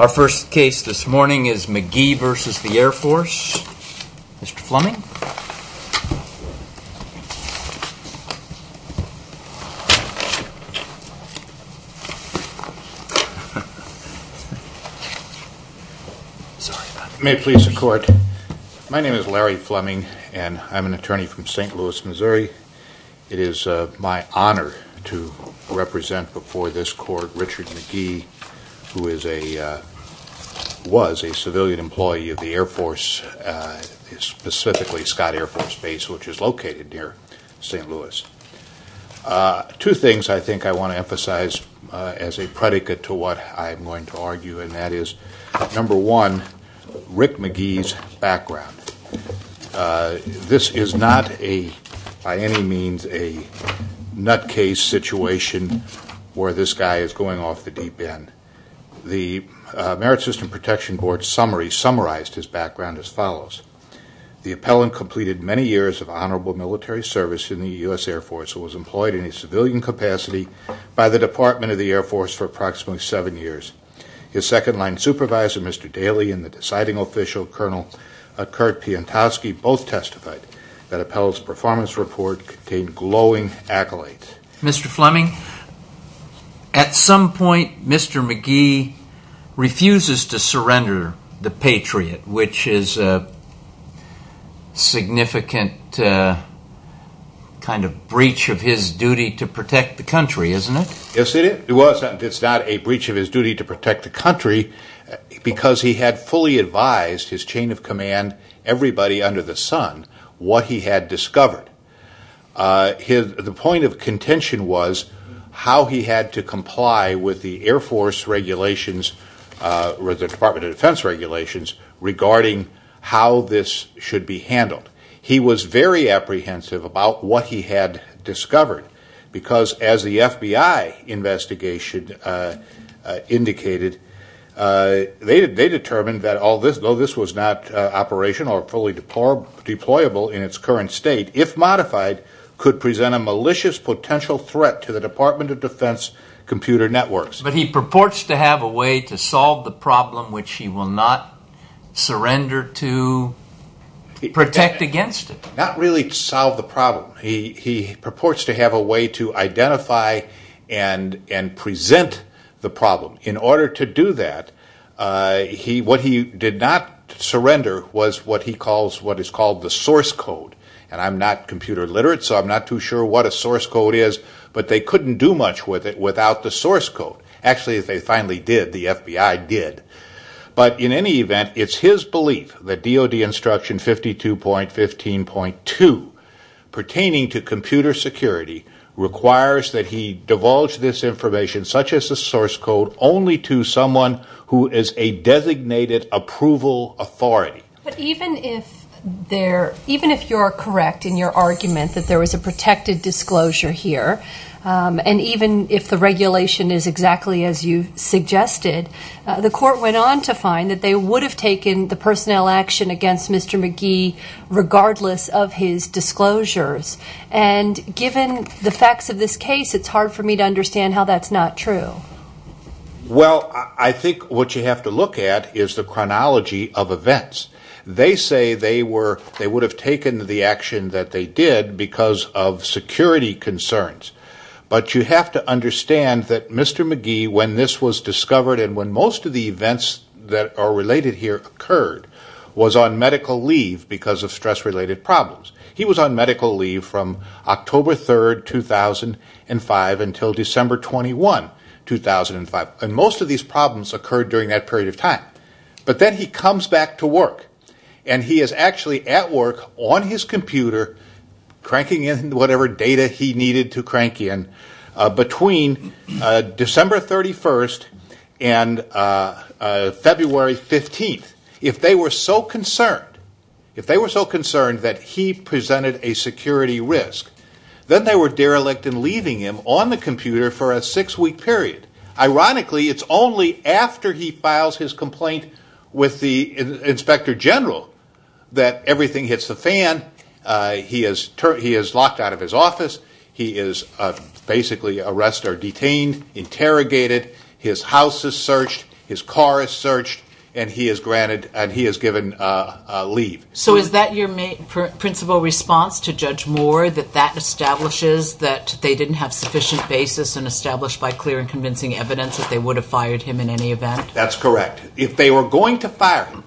Our first case this morning is McGee v. The Air Force. Mr. Fleming. May it please the court. My name is Larry Fleming and I'm an attorney from St. Louis, Missouri. It is my honor to represent before this court Richard McGee, who was a civilian employee of the Air Force, specifically Scott Air Force Base, which is located near St. Louis. Two things I think I want to emphasize as a predicate to what I'm going to argue, and that is, number one, Rick McGee's background. This is not by any means a nutcase situation where this guy is going off the deep end. The Merit System Protection Board summary summarized his background as follows. The appellant completed many years of honorable military service in the U.S. Air Force and was employed in a civilian capacity by the Department of the Air Force for approximately seven years. His second-line supervisor, Mr. Daley, and the deciding official, Colonel Kurt Piantowski, both testified that appellant's performance report contained glowing accolades. Mr. Fleming, at some point Mr. McGee refuses to surrender the Patriot, which is a significant kind of breach of his duty to protect the country, isn't it? Yes, it is. It's not a breach of his duty to protect the country because he had fully advised his chain of command, everybody under the sun, what he had discovered. The point of contention was how he had to comply with the Air Force regulations or the Department of Defense regulations regarding how this should be handled. He was very apprehensive about what he had discovered because as the FBI investigation indicated, they determined that although this was not operational or fully deployable in its current state, if modified, could present a malicious potential threat to the Department of Defense computer networks. But he purports to have a way to solve the problem which he will not surrender to protect against it. Not really to solve the problem. He purports to have a way to identify and present the problem. In order to do that, what he did not surrender was what he calls the source code. I'm not computer literate so I'm not too sure what a source code is, but they couldn't do much with it without the source code. Actually, they finally did. The FBI did. But in any event, it's his belief that DOD instruction 52.15.2 pertaining to computer security requires that he divulge this information such as the source code only to someone who is a designated approval authority. Even if you're correct in your argument that there was a protected disclosure here, and even if the regulation is exactly as you suggested, the court went on to find that they would have taken the personnel action against Mr. McGee regardless of his disclosures. And given the facts of this case, it's hard for me to understand how that's not true. Well, I think what you have to look at is the chronology of events. They say they would have taken the action that they did because of security concerns. But you have to understand that Mr. McGee, when this was discovered, and when most of the events that are related here occurred, was on medical leave because of stress-related problems. He was on medical leave from October 3, 2005 until December 21, 2005. And most of these problems occurred during that period of time. But then he comes back to work, and he is actually at work on his computer cranking in whatever data he needed to crank in between December 31 and February 15. If they were so concerned that he presented a security risk, then they were derelict in leaving him on the computer for a six-week period. Ironically, it's only after he files his complaint with the Inspector General that everything hits the fan. He is locked out of his office. He is basically arrested or detained, interrogated. His house is searched, his car is searched, and he is given leave. So is that your principal response to Judge Moore, that that establishes that they didn't have sufficient basis and established by clear and convincing evidence that they would have fired him in any event? That's correct. If they were going to fire him,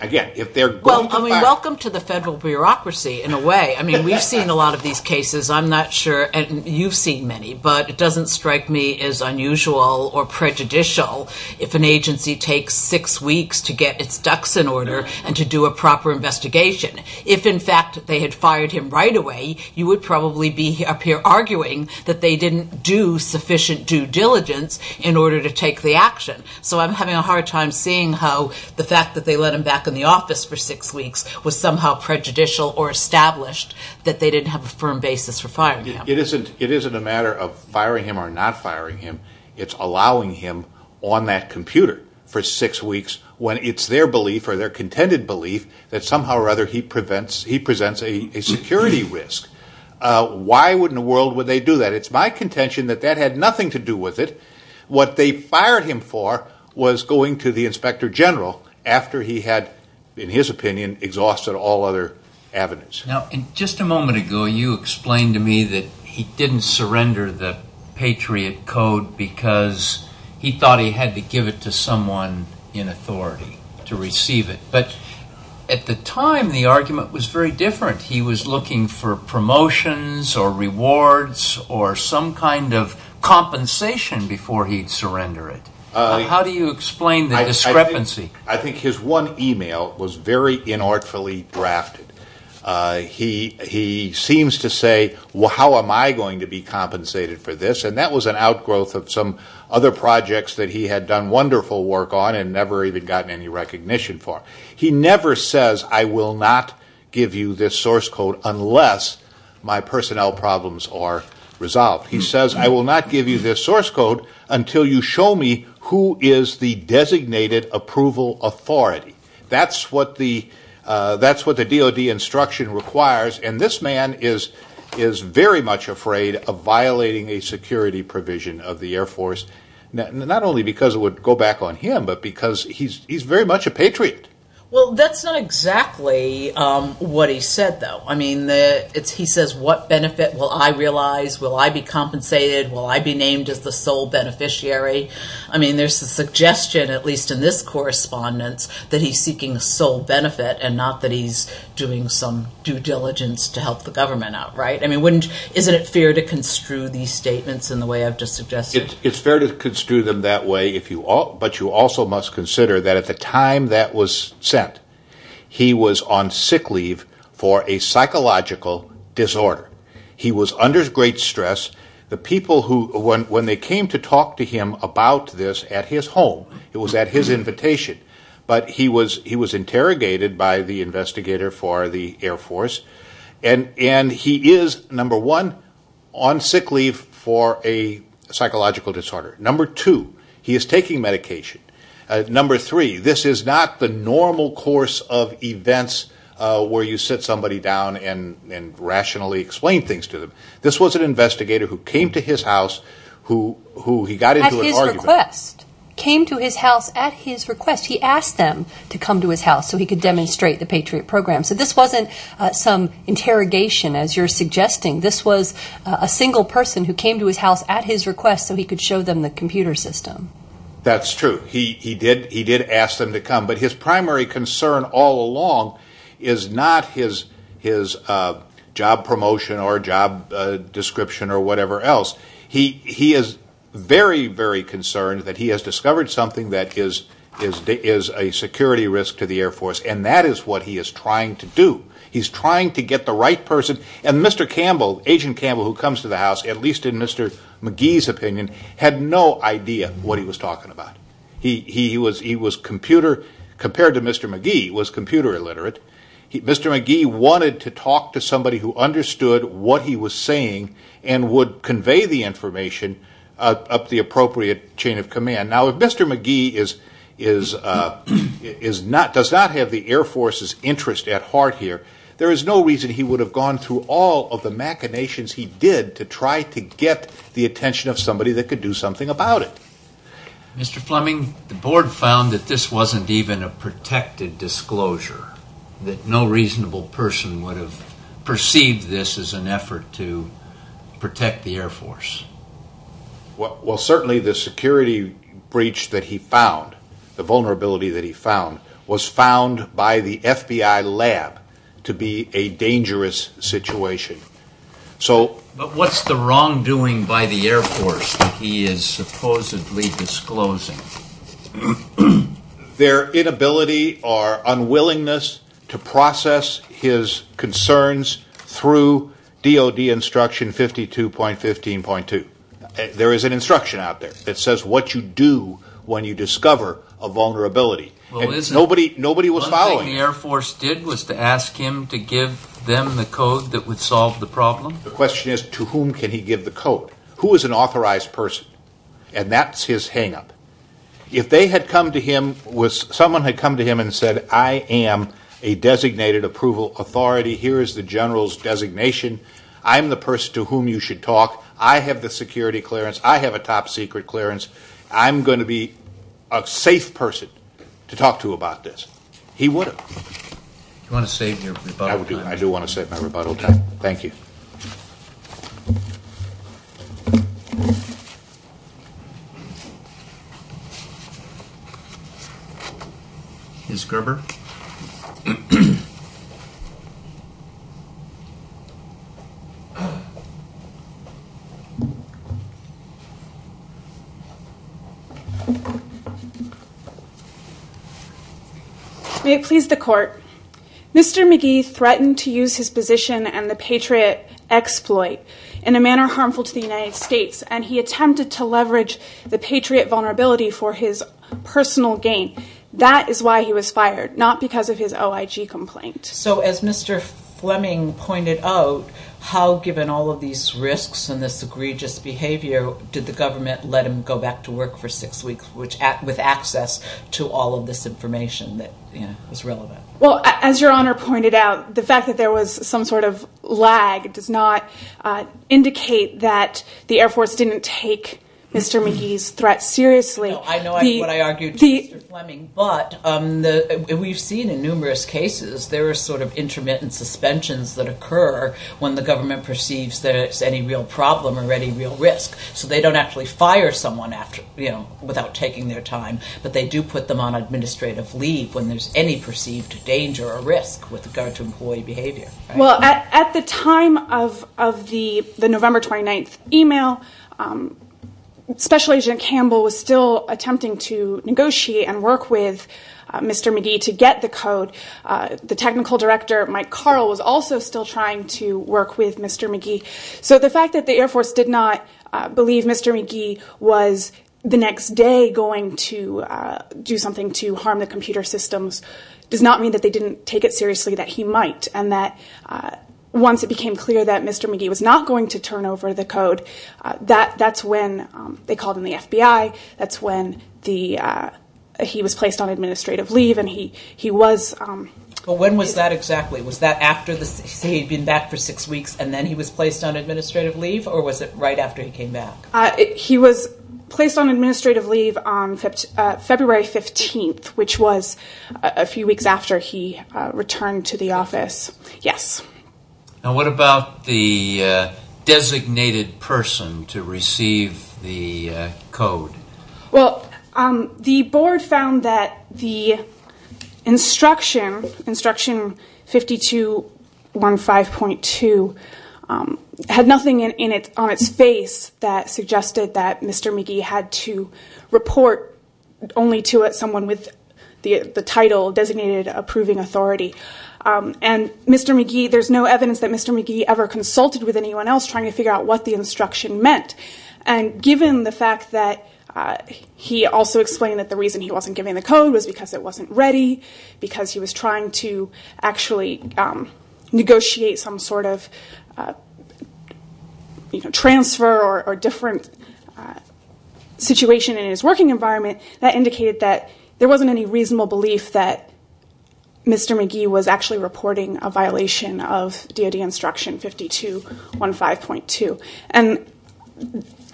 again, if they're going to fire him... Well, I mean, welcome to the federal bureaucracy, in a way. I mean, we've seen a lot of these cases. I'm not sure you've seen many, but it doesn't strike me as unusual or prejudicial if an agency takes six weeks to get its ducks in order and to do a proper investigation. If, in fact, they had fired him right away, you would probably be up here arguing that they didn't do sufficient due diligence in order to take the action. So I'm having a hard time seeing how the fact that they let him back in the office for six weeks was somehow prejudicial or established that they didn't have a firm basis for firing him. It isn't a matter of firing him or not firing him. It's allowing him on that computer for six weeks when it's their belief or their contended belief that somehow or other he presents a security risk. Why in the world would they do that? It's my contention that that had nothing to do with it. What they fired him for was going to the inspector general after he had, in his opinion, exhausted all other avenues. Now, just a moment ago, you explained to me that he didn't surrender the Patriot Code because he thought he had to give it to someone in authority to receive it. But at the time, the argument was very different. He was looking for promotions or rewards or some kind of compensation before he'd surrender it. How do you explain the discrepancy? I think his one email was very inartfully drafted. He seems to say, well, how am I going to be compensated for this? And that was an outgrowth of some other projects that he had done wonderful work on and never even gotten any recognition for. He never says, I will not give you this source code unless my personnel problems are resolved. He says, I will not give you this source code until you show me who is the designated approval authority. That's what the DOD instruction requires, and this man is very much afraid of violating a security provision of the Air Force, not only because it would go back on him, but because he's very much a patriot. Well, that's not exactly what he said, though. I mean, he says, what benefit will I realize? Will I be compensated? Will I be named as the sole beneficiary? I mean, there's a suggestion, at least in this correspondence, that he's seeking sole benefit and not that he's doing some due diligence to help the government out, right? I mean, isn't it fair to construe these statements in the way I've just suggested? It's fair to construe them that way, but you also must consider that at the time that was sent, he was on sick leave for a psychological disorder. He was under great stress. The people who, when they came to talk to him about this at his home, it was at his invitation, but he was interrogated by the investigator for the Air Force, and he is, number one, on sick leave for a psychological disorder. Number two, he is taking medication. Number three, this is not the normal course of events where you sit somebody down and rationally explain things to them. This was an investigator who came to his house, who he got into an argument with. At his request. Came to his house at his request. He asked them to come to his house so he could demonstrate the Patriot Program. So this wasn't some interrogation, as you're suggesting. This was a single person who came to his house at his request so he could show them the computer system. That's true. He did ask them to come, but his primary concern all along is not his job promotion or job description or whatever else. He is very, very concerned that he has discovered something that is a security risk to the Air Force, and that is what he is trying to do. He's trying to get the right person. And Mr. Campbell, Agent Campbell who comes to the house, at least in Mr. McGee's opinion, had no idea what he was talking about. He was computer, compared to Mr. McGee, was computer illiterate. Mr. McGee wanted to talk to somebody who understood what he was saying and would convey the information up the appropriate chain of command. Now, if Mr. McGee does not have the Air Force's interest at heart here, there is no reason he would have gone through all of the machinations he did to try to get the attention of somebody that could do something about it. Mr. Fleming, the Board found that this wasn't even a protected disclosure, that no reasonable person would have perceived this as an effort to protect the Air Force. Well, certainly the security breach that he found, the vulnerability that he found, was found by the FBI lab to be a dangerous situation. But what's the wrongdoing by the Air Force that he is supposedly disclosing? Their inability or unwillingness to process his concerns through DOD instruction 52.15.2. There is an instruction out there that says what you do when you discover a vulnerability. Nobody was following it. One thing the Air Force did was to ask him to give them the code that would solve the problem. The question is, to whom can he give the code? Who is an authorized person? And that's his hang-up. If someone had come to him and said, I am a designated approval authority, here is the general's designation, I'm the person to whom you should talk, I have the security clearance, I have a top secret clearance, I'm going to be a safe person to talk to about this. He would have. Do you want to save your rebuttal time? I do want to save my rebuttal time. Thank you. Thank you. Ms. Gerber. May it please the Court. Mr. McGee threatened to use his position and the patriot exploit in a manner harmful to the United States, and he attempted to leverage the patriot vulnerability for his personal gain. That is why he was fired, not because of his OIG complaint. So as Mr. Fleming pointed out, how, given all of these risks and this egregious behavior, did the government let him go back to work for six weeks with access to all of this information that was relevant? Well, as Your Honor pointed out, the fact that there was some sort of lag does not indicate that the Air Force didn't take Mr. McGee's threat seriously. I know what I argued to Mr. Fleming, but we've seen in numerous cases there are sort of intermittent suspensions that occur when the government perceives there's any real problem or any real risk. So they don't actually fire someone without taking their time, but they do put them on administrative leave when there's any perceived danger or risk with regard to employee behavior. Well, at the time of the November 29th email, Special Agent Campbell was still attempting to negotiate and work with Mr. McGee to get the code. The technical director, Mike Carl, was also still trying to work with Mr. McGee. So the fact that the Air Force did not believe Mr. McGee was the next day going to do something to harm the computer systems does not mean that they didn't take it seriously, that he might, and that once it became clear that Mr. McGee was not going to turn over the code, that's when they called in the FBI, that's when he was placed on administrative leave, and he was... But when was that exactly? Was that after he'd been back for six weeks and then he was placed on administrative leave, or was it right after he came back? He was placed on administrative leave on February 15th, which was a few weeks after he returned to the office. Yes. And what about the designated person to receive the code? Well, the board found that the instruction, instruction 5215.2, had nothing on its face that suggested that Mr. McGee had to report only to someone with the title designated approving authority. And Mr. McGee, there's no evidence that Mr. McGee ever consulted with anyone else trying to figure out what the instruction meant. And given the fact that he also explained that the reason he wasn't giving the code was because it wasn't ready, because he was trying to actually negotiate some sort of transfer or different situation in his working environment, that indicated that there wasn't any reasonable belief that Mr. McGee was actually reporting a violation of DOD instruction 5215.2. And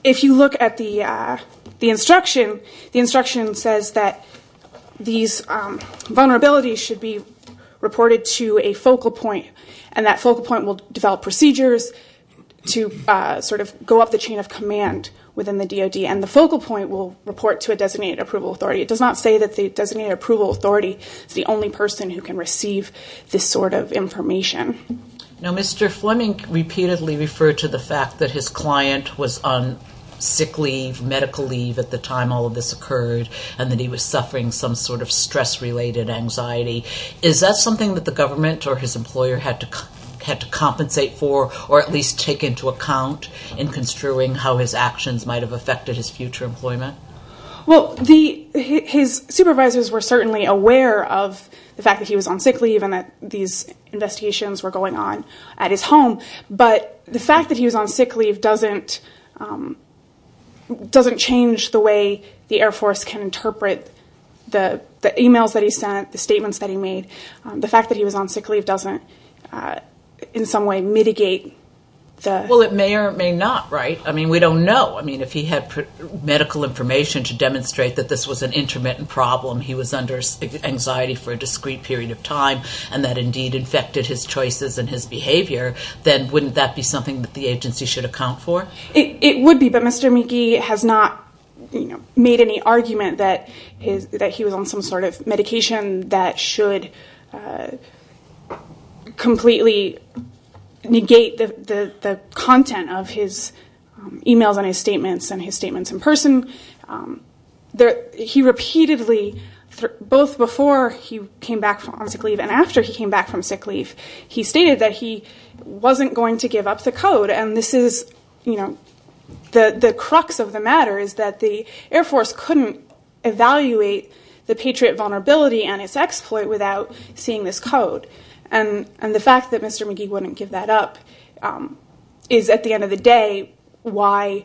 if you look at the instruction, the instruction says that these vulnerabilities should be reported to a focal point and that focal point will develop procedures to sort of go up the chain of command within the DOD and the focal point will report to a designated approval authority. It does not say that the designated approval authority is the only person who can receive this sort of information. Now, Mr. Fleming repeatedly referred to the fact that his client was on sick leave, medical leave at the time all of this occurred, and that he was suffering some sort of stress-related anxiety. Is that something that the government or his employer had to compensate for or at least take into account in construing how his actions might have affected his future employment? Well, his supervisors were certainly aware of the fact that he was on sick leave and that these investigations were going on at his home. But the fact that he was on sick leave doesn't change the way the Air Force can interpret the e-mails that he sent, the statements that he made. The fact that he was on sick leave doesn't in some way mitigate the... Well, it may or may not, right? I mean, we don't know. I mean, if he had medical information to demonstrate that this was an intermittent problem, he was under anxiety for a discrete period of time, and that indeed infected his choices and his behavior, then wouldn't that be something that the agency should account for? It would be, but Mr. McGee has not made any argument that he was on some sort of medication that should completely negate the content of his e-mails and his statements and his statements in person. He repeatedly, both before he came back from sick leave and after he came back from sick leave, he stated that he wasn't going to give up the code. And this is, you know, the crux of the matter is that the Air Force couldn't evaluate the patriot vulnerability and its exploit without seeing this code. And the fact that Mr. McGee wouldn't give that up is, at the end of the day, why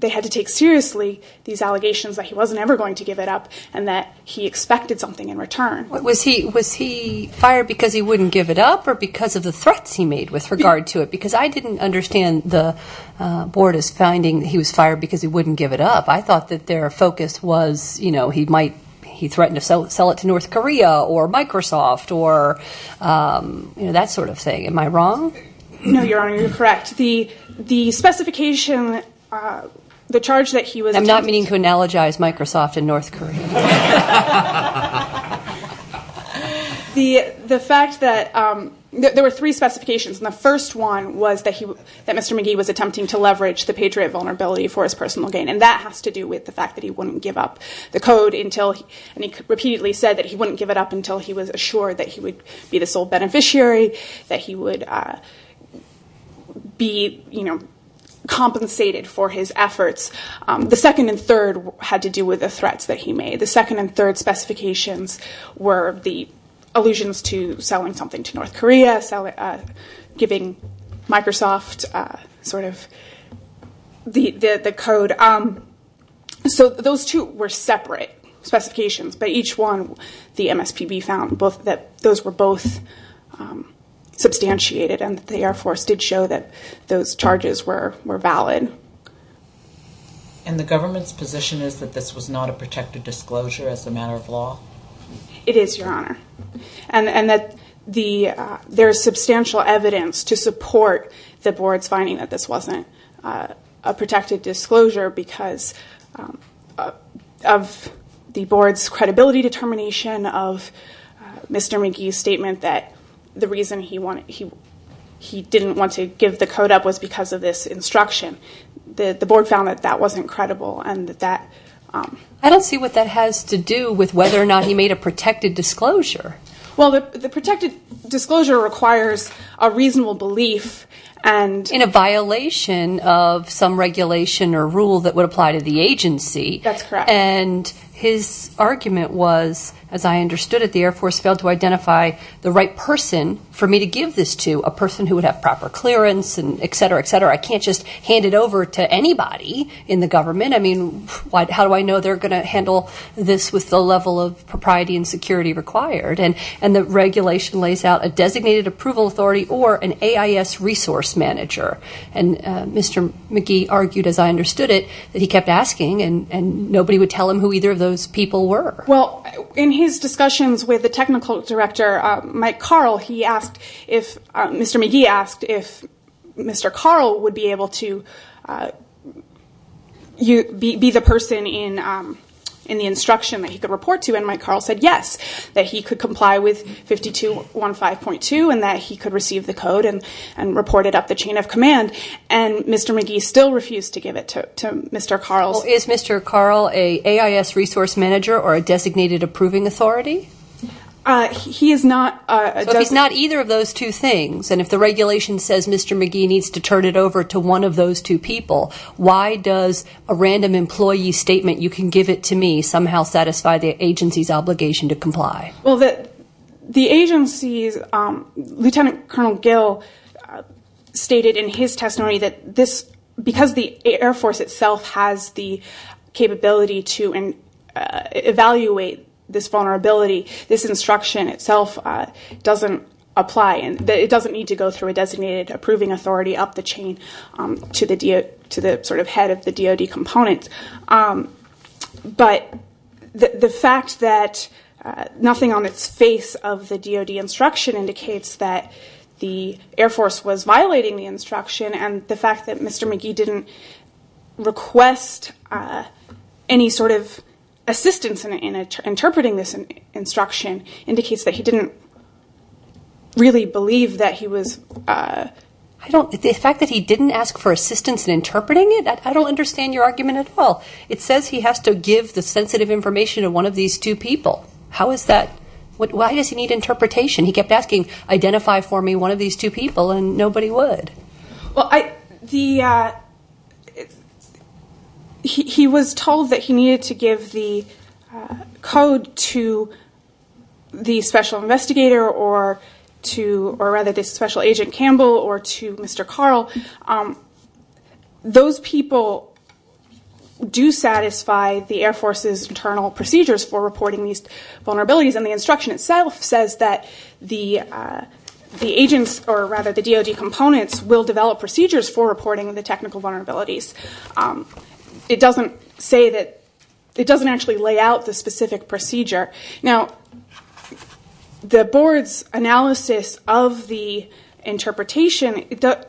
they had to take seriously these allegations that he wasn't ever going to give it up and that he expected something in return. Was he fired because he wouldn't give it up or because of the threats he made with regard to it? Because I didn't understand the board as finding he was fired because he wouldn't give it up. I thought that their focus was, you know, he threatened to sell it to North Korea or Microsoft or, you know, that sort of thing. Am I wrong? No, Your Honor, you're correct. The specification, the charge that he was- I'm not meaning to analogize Microsoft and North Korea. The fact that there were three specifications, and the first one was that Mr. McGee was attempting to leverage the patriot vulnerability for his personal gain, and that has to do with the fact that he wouldn't give up the code until- and he repeatedly said that he wouldn't give it up until he was assured that he would be the sole beneficiary, that he would be, you know, compensated for his efforts. The second and third had to do with the threats that he made. The second and third specifications were the allusions to selling something to North Korea, giving Microsoft sort of the code. So those two were separate specifications, but each one the MSPB found that those were both substantiated and that the Air Force did show that those charges were valid. And the government's position is that this was not a protected disclosure as a matter of law? It is, Your Honor, and that there is substantial evidence to support the board's finding that this wasn't a protected disclosure because of the board's credibility determination of Mr. McGee's statement that the reason he didn't want to give the code up was because of this instruction. The board found that that wasn't credible and that that- I don't see what that has to do with whether or not he made a protected disclosure. Well, the protected disclosure requires a reasonable belief and- That's correct. And his argument was, as I understood it, the Air Force failed to identify the right person for me to give this to, a person who would have proper clearance and et cetera, et cetera. I can't just hand it over to anybody in the government. I mean, how do I know they're going to handle this with the level of propriety and security required? And the regulation lays out a designated approval authority or an AIS resource manager. And Mr. McGee argued, as I understood it, that he kept asking and nobody would tell him who either of those people were. Well, in his discussions with the technical director, Mike Carl, he asked if- Mr. McGee asked if Mr. Carl would be able to be the person in the instruction that he could report to, and Mike Carl said yes, that he could comply with 5215.2 and that he could receive the code and report it up the chain of command. And Mr. McGee still refused to give it to Mr. Carl. Well, is Mr. Carl an AIS resource manager or a designated approving authority? He is not- So if he's not either of those two things, and if the regulation says Mr. McGee needs to turn it over to one of those two people, why does a random employee statement, you can give it to me, somehow satisfy the agency's obligation to comply? Well, the agency's-Lieutenant Colonel Gill stated in his testimony that this- because the Air Force itself has the capability to evaluate this vulnerability, this instruction itself doesn't apply. It doesn't need to go through a designated approving authority up the chain to the sort of head of the DOD component. But the fact that nothing on its face of the DOD instruction indicates that the Air Force was violating the instruction, and the fact that Mr. McGee didn't request any sort of assistance in interpreting this instruction indicates that he didn't really believe that he was- The fact that he didn't ask for assistance in interpreting it? I don't understand your argument at all. It says he has to give the sensitive information to one of these two people. How is that-Why does he need interpretation? He kept asking, identify for me one of these two people, and nobody would. He was told that he needed to give the code to the special investigator, or rather the special agent Campbell, or to Mr. Carl. Those people do satisfy the Air Force's internal procedures for reporting these vulnerabilities, and the instruction itself says that the agents, or rather the DOD components, will develop procedures for reporting the technical vulnerabilities. It doesn't say that-It doesn't actually lay out the specific procedure. Now, the board's analysis of the interpretation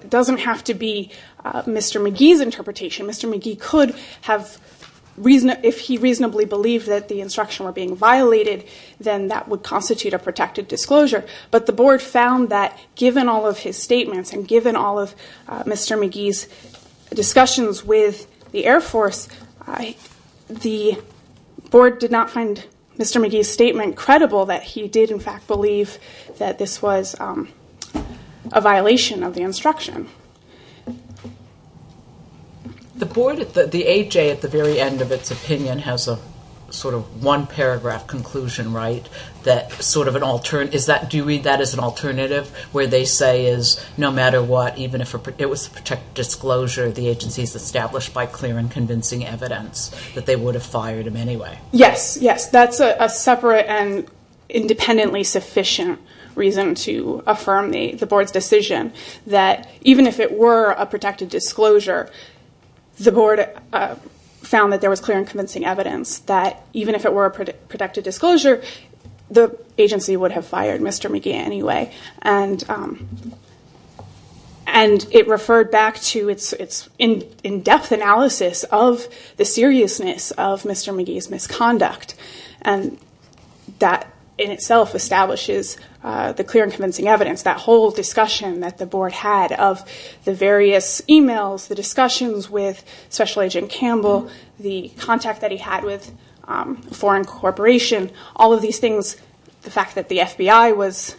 doesn't have to be Mr. McGee's interpretation. Mr. McGee could have-If he reasonably believed that the instruction were being violated, then that would constitute a protected disclosure, but the board found that given all of his statements, and given all of Mr. McGee's discussions with the Air Force, the board did not find Mr. McGee's statement credible, that he did, in fact, believe that this was a violation of the instruction. The board-The AJ, at the very end of its opinion, has a sort of one-paragraph conclusion, right, that sort of an alternative-Is that-Do you read that as an alternative, where they say no matter what, even if it was a protected disclosure, the agency is established by clear and convincing evidence that they would have fired him anyway? Yes, yes. That's a separate and independently sufficient reason to affirm the board's decision that even if it were a protected disclosure, the board found that there was clear and convincing evidence that even if it were a protected disclosure, the agency would have fired Mr. McGee anyway. And it referred back to its in-depth analysis of the seriousness of Mr. McGee's misconduct, and that in itself establishes the clear and convincing evidence, that whole discussion that the board had of the various emails, the discussions with Special Agent Campbell, the contact that he had with a foreign corporation, all of these things, the fact that the FBI was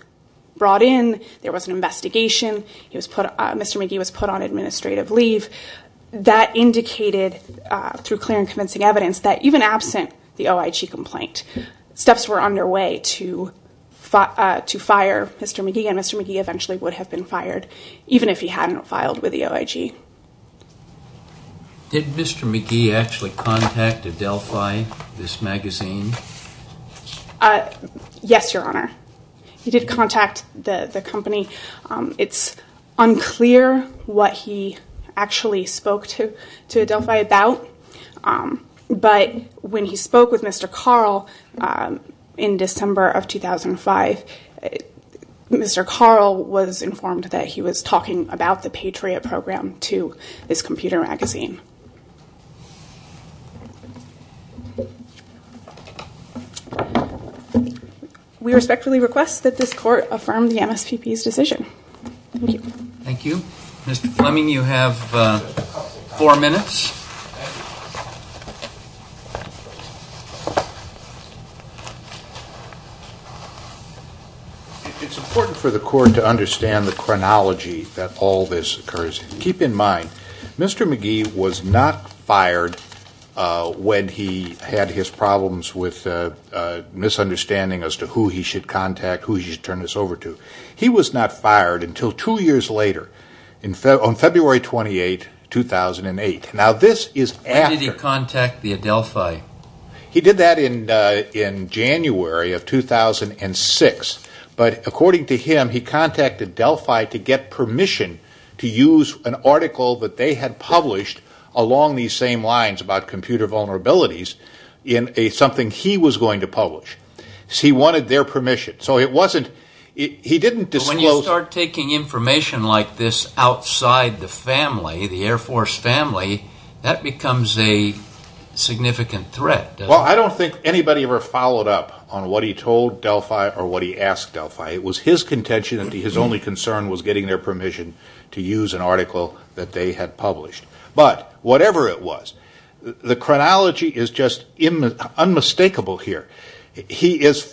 brought in, there was an investigation, Mr. McGee was put on administrative leave, that indicated through clear and convincing evidence that even absent the OIG complaint, steps were underway to fire Mr. McGee, and Mr. McGee eventually would have been fired, even if he hadn't filed with the OIG. Did Mr. McGee actually contact Adelphi, this magazine? Yes, Your Honor. He did contact the company. It's unclear what he actually spoke to Adelphi about, but when he spoke with Mr. Carl in December of 2005, Mr. Carl was informed that he was talking about the Patriot Program to this computer magazine. We respectfully request that this Court affirm the MSPP's decision. Thank you. Thank you. Mr. Fleming, you have four minutes. It's important for the Court to understand the chronology that all this occurs in. Keep in mind, Mr. McGee was not fired when he had his problems with misunderstanding as to who he should contact, who he should turn this over to. He was not fired until two years later, on February 28, 2008. When did he contact the Adelphi? He did that in January of 2006, but according to him, he contacted Adelphi to get permission to use an article that they had published along these same lines about computer vulnerabilities in something he was going to publish. He wanted their permission. When you start taking information like this outside the family, the Air Force family, that becomes a significant threat. Well, I don't think anybody ever followed up on what he told Adelphi or what he asked Adelphi. It was his contention that his only concern was getting their permission to use an article that they had published. But, whatever it was, the chronology is just unmistakable here. He is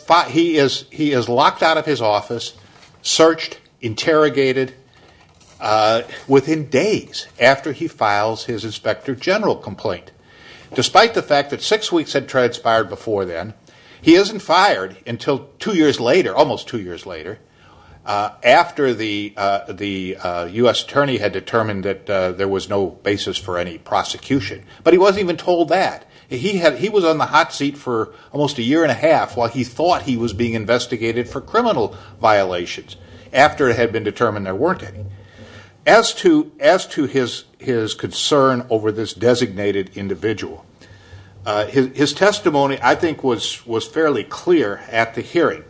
locked out of his office, searched, interrogated, within days after he files his Inspector General complaint. Despite the fact that six weeks had transpired before then, he isn't fired until two years later, almost two years later, after the U.S. Attorney had determined that there was no basis for any prosecution. But he wasn't even told that. He was on the hot seat for almost a year and a half, while he thought he was being investigated for criminal violations, after it had been determined there weren't any. As to his concern over this designated individual, his testimony, I think, was fairly clear at the hearing.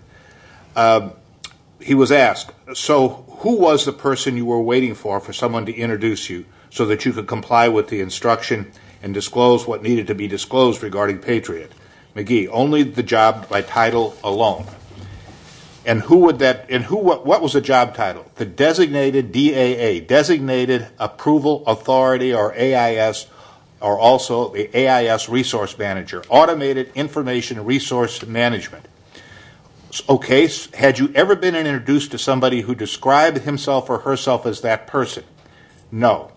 He was asked, so who was the person you were waiting for for someone to introduce you so that you could comply with the instruction and disclose what needed to be disclosed regarding Patriot? McGee, only the job by title alone. And what was the job title? The designated DAA, designated approval authority or AIS, or also the AIS resource manager, automated information resource management. O'Case, had you ever been introduced to somebody who described himself or herself as that person? No.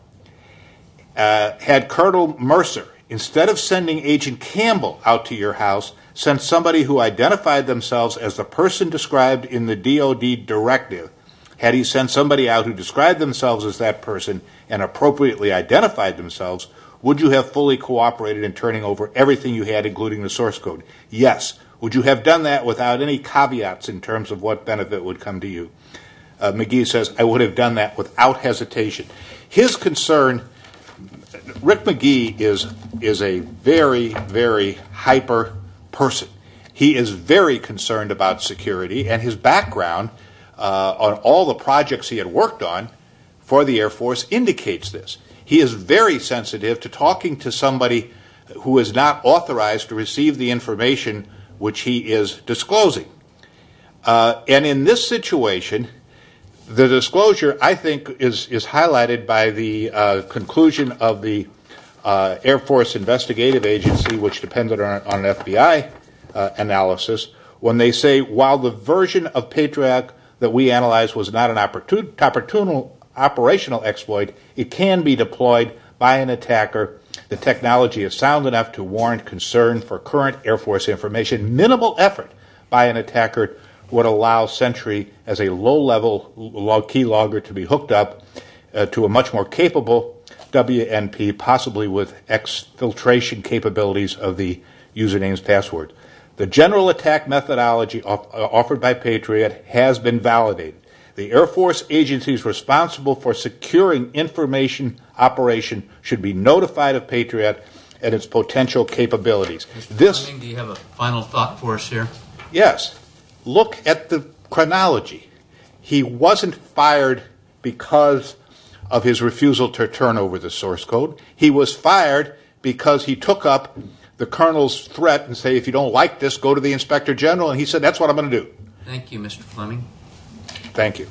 Had Colonel Mercer, instead of sending Agent Campbell out to your house, sent somebody who identified themselves as the person described in the DOD directive, had he sent somebody out who described themselves as that person and appropriately identified themselves, would you have fully cooperated in turning over everything you had, including the source code? Yes. Would you have done that without any caveats in terms of what benefit would come to you? McGee says, I would have done that without hesitation. His concern, Rick McGee is a very, very hyper person. He is very concerned about security, and his background on all the projects he had worked on for the Air Force indicates this. He is very sensitive to talking to somebody who is not authorized to receive the information which he is disclosing. In this situation, the disclosure, I think, is highlighted by the conclusion of the Air Force Investigative Agency, which depended on an FBI analysis, when they say while the version of Patriot that we analyzed was not an operational exploit, it can be deployed by an attacker. The technology is sound enough to warrant concern for current Air Force information. The minimal effort by an attacker would allow Sentry as a low-level key logger to be hooked up to a much more capable WNP, possibly with exfiltration capabilities of the username's password. The general attack methodology offered by Patriot has been validated. The Air Force agencies responsible for securing information operation should be notified of Patriot and its potential capabilities. Mr. Fleming, do you have a final thought for us here? Yes. Look at the chronology. He wasn't fired because of his refusal to turn over the source code. He was fired because he took up the Colonel's threat and said, if you don't like this, go to the Inspector General, and he said, that's what I'm going to do. Thank you, Mr. Fleming. Thank you.